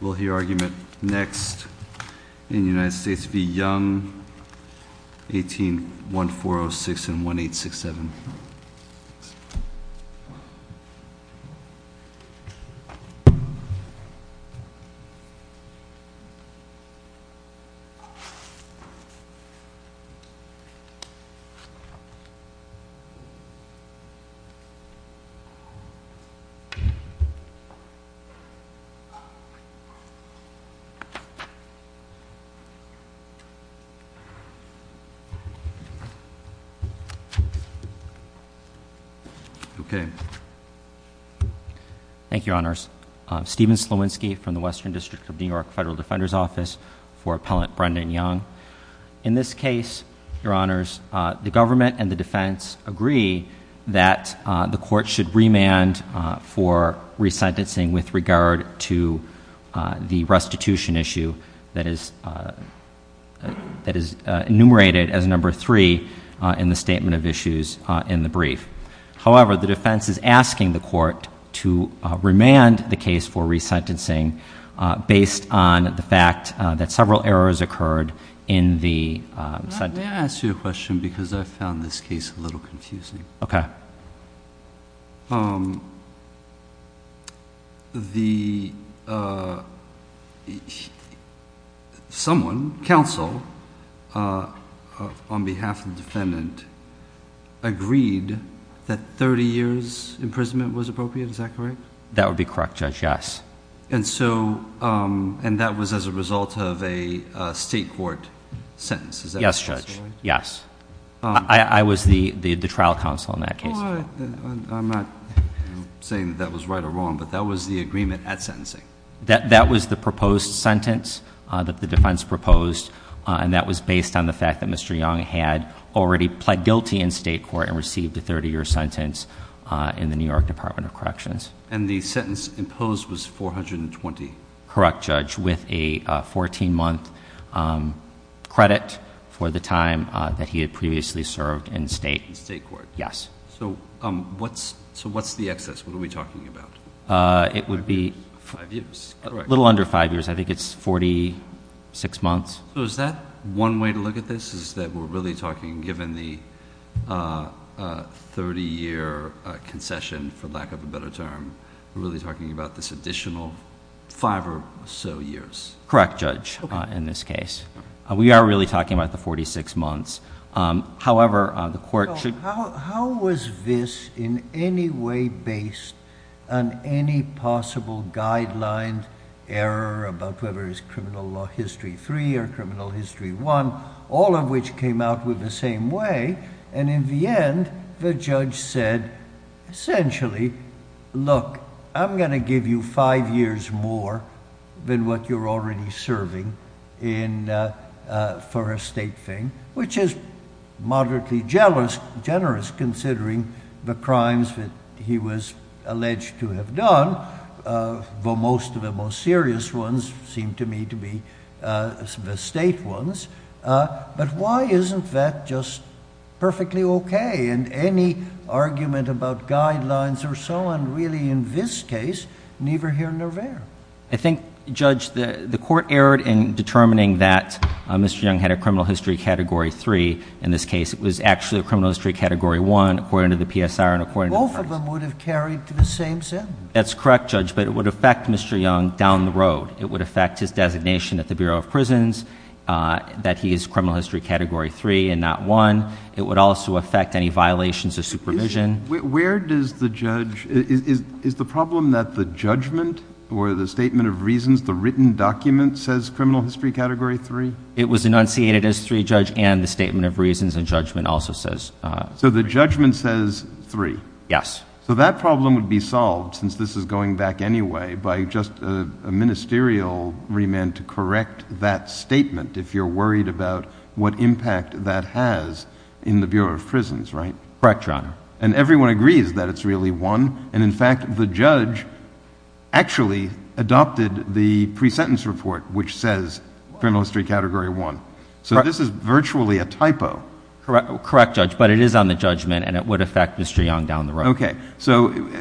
We'll hear argument next in the United States v. Young, 18-1406 and 1867. Thank you, Your Honors. Stephen Slowinski from the Western District of New York Federal Defender's Office for Appellant Brendan Young. In this case, Your Honors, the government and the defense agree that the court should the restitution issue that is enumerated as number three in the statement of issues in the brief. However, the defense is asking the court to remand the case for resentencing based on the fact that several errors occurred in the sentencing. May I ask you a question because I found this case a little confusing? Okay. The someone, counsel, on behalf of the defendant, agreed that 30 years' imprisonment was appropriate? Is that correct? That would be correct, Judge, yes. And that was as a result of a state court sentence? Yes, Judge, yes. I was the trial counsel in that case. I'm not saying that that was right or wrong, but that was the agreement at sentencing? That was the proposed sentence that the defense proposed, and that was based on the fact that Mr. Young had already pled guilty in state court and received a 30-year sentence in the New York Department of Corrections. And the sentence imposed was 420? Correct, Judge, with a 14-month credit for the time that he had previously served in state court. In state court. Yes. So what's the excess? What are we talking about? It would be a little under five years. I think it's 46 months. So is that one way to look at this, is that we're really talking, given the 30-year concession, for lack of a better term, we're really talking about this additional five or so years? Correct, Judge, in this case. We are really talking about the 46 months. However, the court should— How was this in any way based on any possible guideline error about whether it's criminal law history three or criminal history one, all of which came out with the same way? And in the end, the judge said, essentially, look, I'm going to give you five years more than what you're already serving for a state thing, which is moderately generous considering the crimes that he was alleged to have done, though most of the most serious ones seem to me to be the state ones. But why isn't that just perfectly okay? And any argument about guidelines or so on, really, in this case, neither here nor there. I think, Judge, the court erred in determining that Mr. Young had a criminal history category three. In this case, it was actually a criminal history category one, according to the PSR and according to the parties. Both of them would have carried to the same sentence. That's correct, Judge, but it would affect Mr. Young down the road. It would affect his designation at the Bureau of Prisons, that he is criminal history category three and not one. It would also affect any violations of supervision. Is the problem that the judgment or the statement of reasons, the written document, says criminal history category three? It was enunciated as three, Judge, and the statement of reasons and judgment also says three. So the judgment says three? Yes. So that problem would be solved, since this is going back anyway, by just a ministerial remand to correct that statement, if you're worried about what impact that has in the Bureau of Prisons, right? Correct, Your Honor. And everyone agrees that it's really one, and, in fact, the judge actually adopted the pre-sentence report, which says criminal history category one. So this is virtually a typo. Correct, Judge, but it is on the judgment, and it would affect Mr. Young down the road. Okay.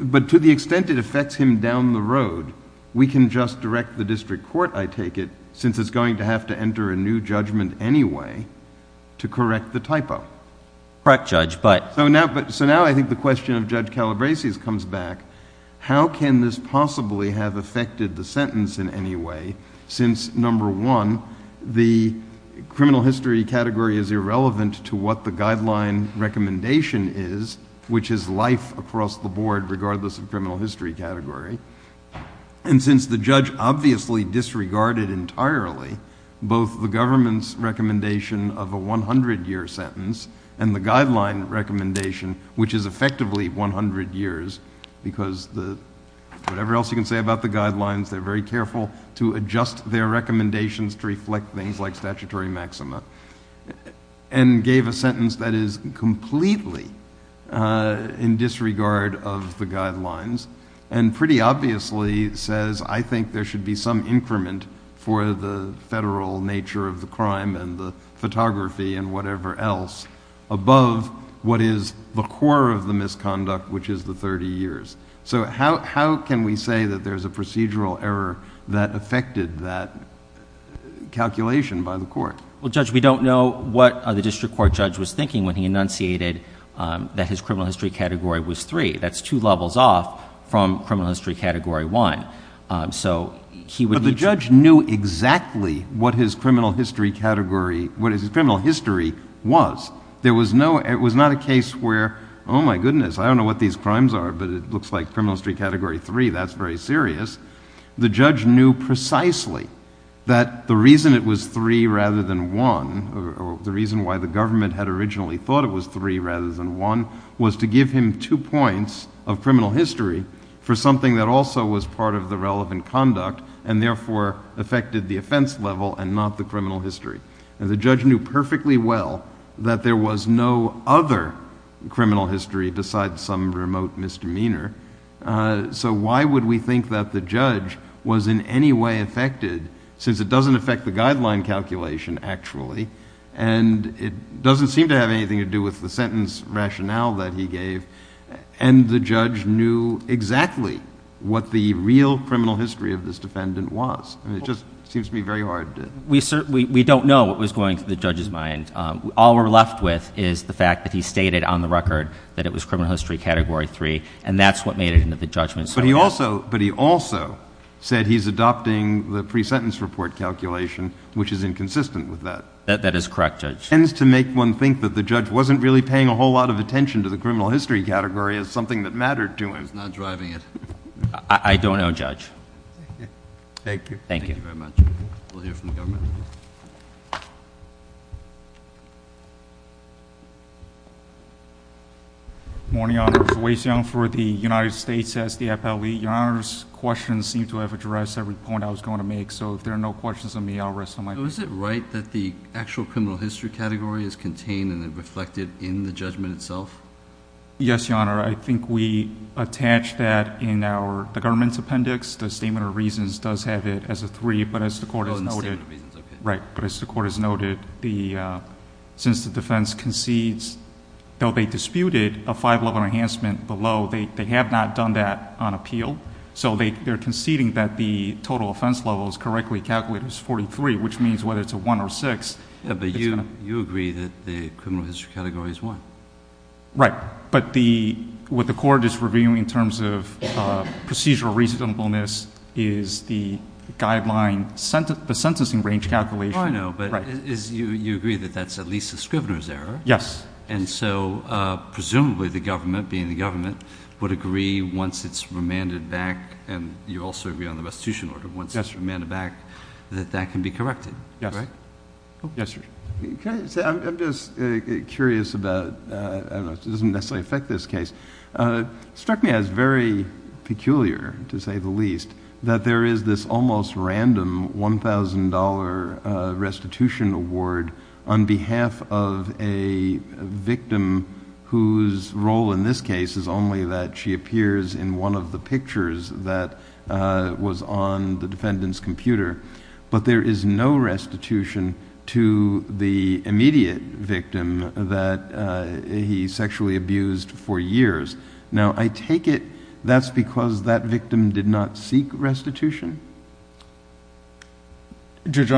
But to the extent it affects him down the road, we can just direct the district court, I take it, since it's going to have to enter a new judgment anyway, to correct the typo. Correct, Judge, but— So now I think the question of Judge Calabresi comes back, how can this possibly have affected the sentence in any way, since, number one, the criminal history category is irrelevant to what the guideline recommendation is, which is life across the board, regardless of criminal history category, and since the judge obviously disregarded entirely both the government's recommendation of a 100-year sentence and the guideline recommendation, which is effectively 100 years, because whatever else you can say about the guidelines, they're very careful to adjust their recommendations to reflect things like statutory maxima, and gave a sentence that is completely in disregard of the guidelines, and pretty obviously says, I think there should be some increment for the federal nature of the crime and the photography and whatever else above what is the core of the misconduct, which is the 30 years. So how can we say that there's a procedural error that affected that calculation by the court? Well, Judge, we don't know what the district court judge was thinking when he enunciated that his criminal history category was three. That's two levels off from criminal history category one. But the judge knew exactly what his criminal history was. It was not a case where, oh, my goodness, I don't know what these crimes are, but it looks like criminal history category three, that's very serious. The judge knew precisely that the reason it was three rather than one, or the reason why the government had originally thought it was three rather than one, was to give him two points of criminal history for something that also was part of the relevant conduct and therefore affected the offense level and not the criminal history. And the judge knew perfectly well that there was no other criminal history besides some remote misdemeanor. So why would we think that the judge was in any way affected, since it doesn't affect the guideline calculation actually, and it doesn't seem to have anything to do with the sentence rationale that he gave, and the judge knew exactly what the real criminal history of this defendant was? I mean, it just seems to be very hard. We don't know what was going through the judge's mind. All we're left with is the fact that he stated on the record that it was criminal history category three, and that's what made it into the judgment. But he also said he's adopting the pre-sentence report calculation, which is inconsistent with that. That is correct, Judge. It tends to make one think that the judge wasn't really paying a whole lot of attention to the criminal history category as something that mattered to him. I was not driving it. I don't know, Judge. Thank you. Thank you. Thank you very much. We'll hear from the government. Good morning, Your Honor. This is Wei Xiong for the United States SDFL. Your Honor's questions seem to have addressed every point I was going to make, so if there are no questions of me, I'll rest on my feet. So is it right that the actual criminal history category is contained and reflected in the judgment itself? Yes, Your Honor. I think we attach that in the government's appendix. The statement of reasons does have it as a three, but as the court has noted, since the defense concedes, though they disputed a five-level enhancement below, they have not done that on appeal. So they're conceding that the total offense level is correctly calculated as 43, which means whether it's a one or a six. Yeah, but you agree that the criminal history category is one. Right. But what the court is reviewing in terms of procedural reasonableness is the guideline, the sentencing range calculation. Oh, I know, but you agree that that's at least the scrivener's error. Yes. And so presumably the government, being the government, would agree once it's remanded back, and you also agree on the restitution order, once it's remanded back, that that can be corrected. Yes. Right? Yes, sir. I'm just curious about, I don't know, it doesn't necessarily affect this case. It struck me as very peculiar, to say the least, that there is this almost random $1,000 restitution award on behalf of a victim whose role in this case is only that she appears in one of the pictures that was on the defendant's computer, but there is no restitution to the immediate victim that he sexually abused for years. Now, I take it that's because that victim did not seek restitution? Judge,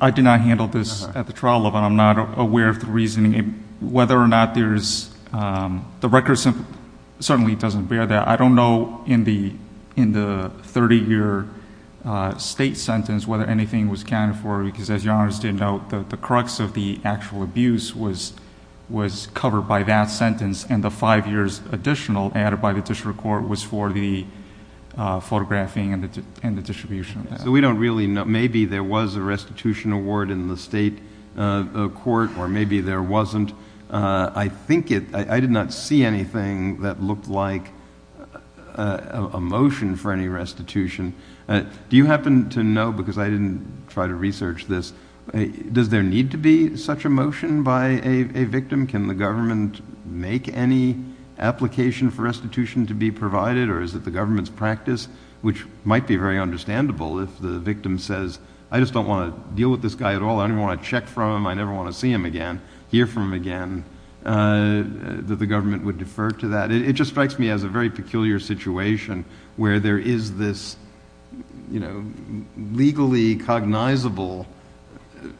I did not handle this at the trial level. I'm not aware of the reasoning. Whether or not there's the record certainly doesn't bear that. I don't know in the 30-year state sentence whether anything was accounted for, because as Your Honor did note, the crux of the actual abuse was covered by that sentence, and the five years additional added by the district court was for the photographing and the distribution. So we don't really know. Maybe there was a restitution award in the state court, or maybe there wasn't. I did not see anything that looked like a motion for any restitution. Do you happen to know, because I didn't try to research this, does there need to be such a motion by a victim? Can the government make any application for restitution to be provided, or is it the government's practice, which might be very understandable if the victim says, I just don't want to deal with this guy at all. I don't even want to check from him. I never want to see him again, hear from him again, that the government would defer to that. It just strikes me as a very peculiar situation where there is this legally cognizable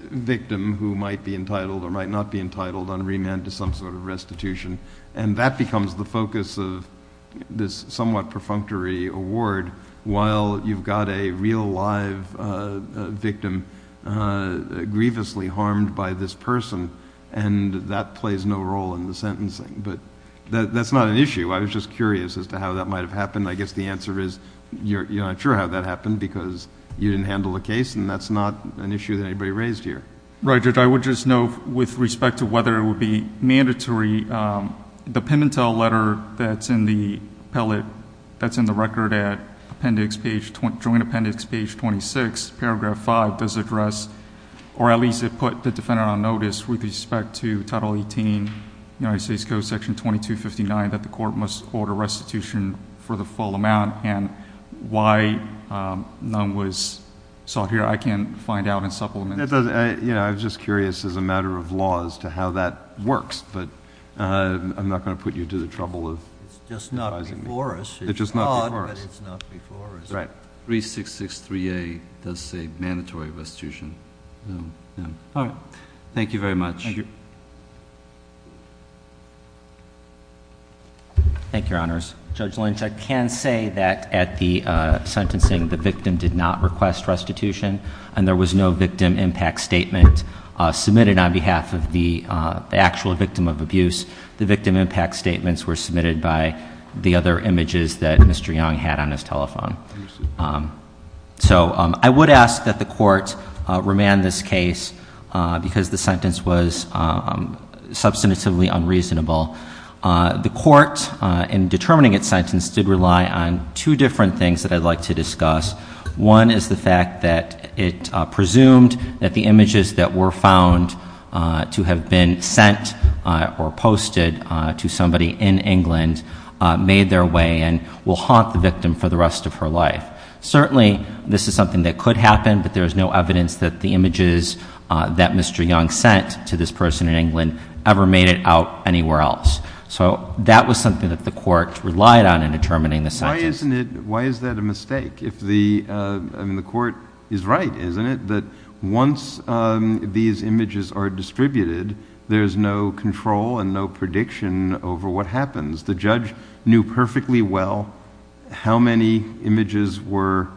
victim who might be entitled or might not be entitled on remand to some sort of restitution, and that becomes the focus of this somewhat perfunctory award while you've got a real, live victim grievously harmed by this person, and that plays no role in the sentencing. But that's not an issue. I was just curious as to how that might have happened. I guess the answer is you're not sure how that happened because you didn't handle the case, and that's not an issue that anybody raised here. Right, Judge, I would just note with respect to whether it would be mandatory, the Pimentel letter that's in the record at Joint Appendix Page 26, Paragraph 5, does address, or at least it put the defendant on notice with respect to Title 18, United States Code Section 2259, that the court must order restitution for the full amount, and why none was sought here I can't find out in supplement. I was just curious as a matter of law as to how that works, but I'm not going to put you to the trouble of advising me. It's just not before us. It's not before us. Right. 3663A does say mandatory restitution. All right. Thank you very much. Thank you. Thank you, Your Honors. Judge Lynch, I can say that at the sentencing the victim did not request restitution, and there was no victim impact statement submitted on behalf of the actual victim of abuse. The victim impact statements were submitted by the other images that Mr. Young had on his telephone. So I would ask that the court remand this case because the sentence was substantively unreasonable. The court, in determining its sentence, did rely on two different things that I'd like to discuss. One is the fact that it presumed that the images that were found to have been sent or posted to somebody in England made their way and will haunt the victim for the rest of her life. Certainly this is something that could happen, but there is no evidence that the images that Mr. Young sent to this person in England ever made it out anywhere else. So that was something that the court relied on in determining the sentence. Why is that a mistake? The court is right, isn't it, that once these images are distributed, there's no control and no prediction over what happens. The judge knew perfectly well how many images were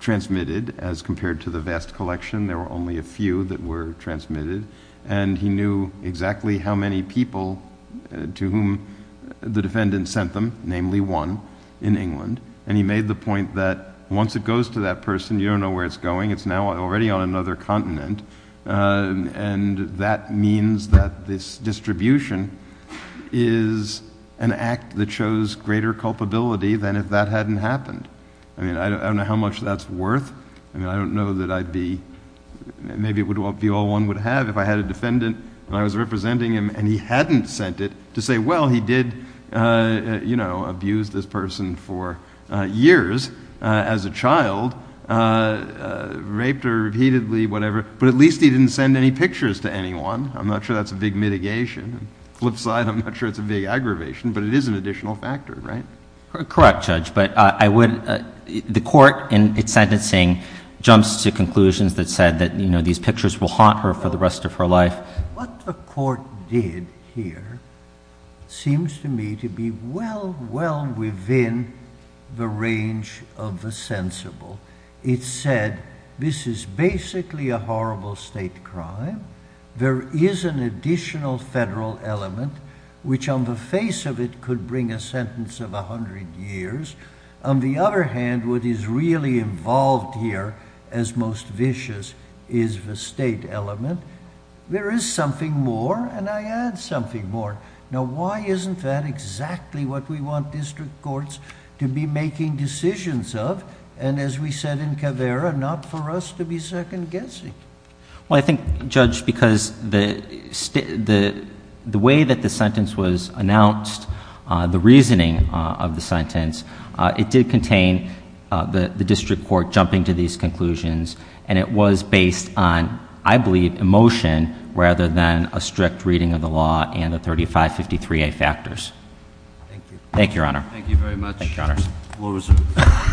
transmitted as compared to the vast collection. There were only a few that were transmitted, and he knew exactly how many people to whom the defendant sent them, namely one, in England. And he made the point that once it goes to that person, you don't know where it's going. It's now already on another continent, and that means that this distribution is an act that shows greater culpability than if that hadn't happened. I mean, I don't know how much that's worth. I mean, I don't know that I'd be—maybe it would be all one would have if I had a defendant and I was representing him and he hadn't sent it to say, well, he did, you know, abuse this person for years as a child, raped her repeatedly, whatever, but at least he didn't send any pictures to anyone. I'm not sure that's a big mitigation. Flip side, I'm not sure it's a big aggravation, but it is an additional factor, right? Correct, Judge. But I would—the court in its sentencing jumps to conclusions that said that, you know, these pictures will haunt her for the rest of her life. What the court did here seems to me to be well, well within the range of the sensible. It said this is basically a horrible state crime. There is an additional federal element which on the face of it could bring a sentence of a hundred years. On the other hand, what is really involved here as most vicious is the state element. There is something more and I add something more. Now, why isn't that exactly what we want district courts to be making decisions of and as we said in Caveira, not for us to be second guessing? Well, I think, Judge, because the way that the sentence was announced, the reasoning of the sentence, it did contain the district court jumping to these conclusions and it was based on, I believe, emotion rather than a strict reading of the law and the 3553A factors. Thank you. Thank you, Your Honor. Thank you very much. Thank you, Your Honors.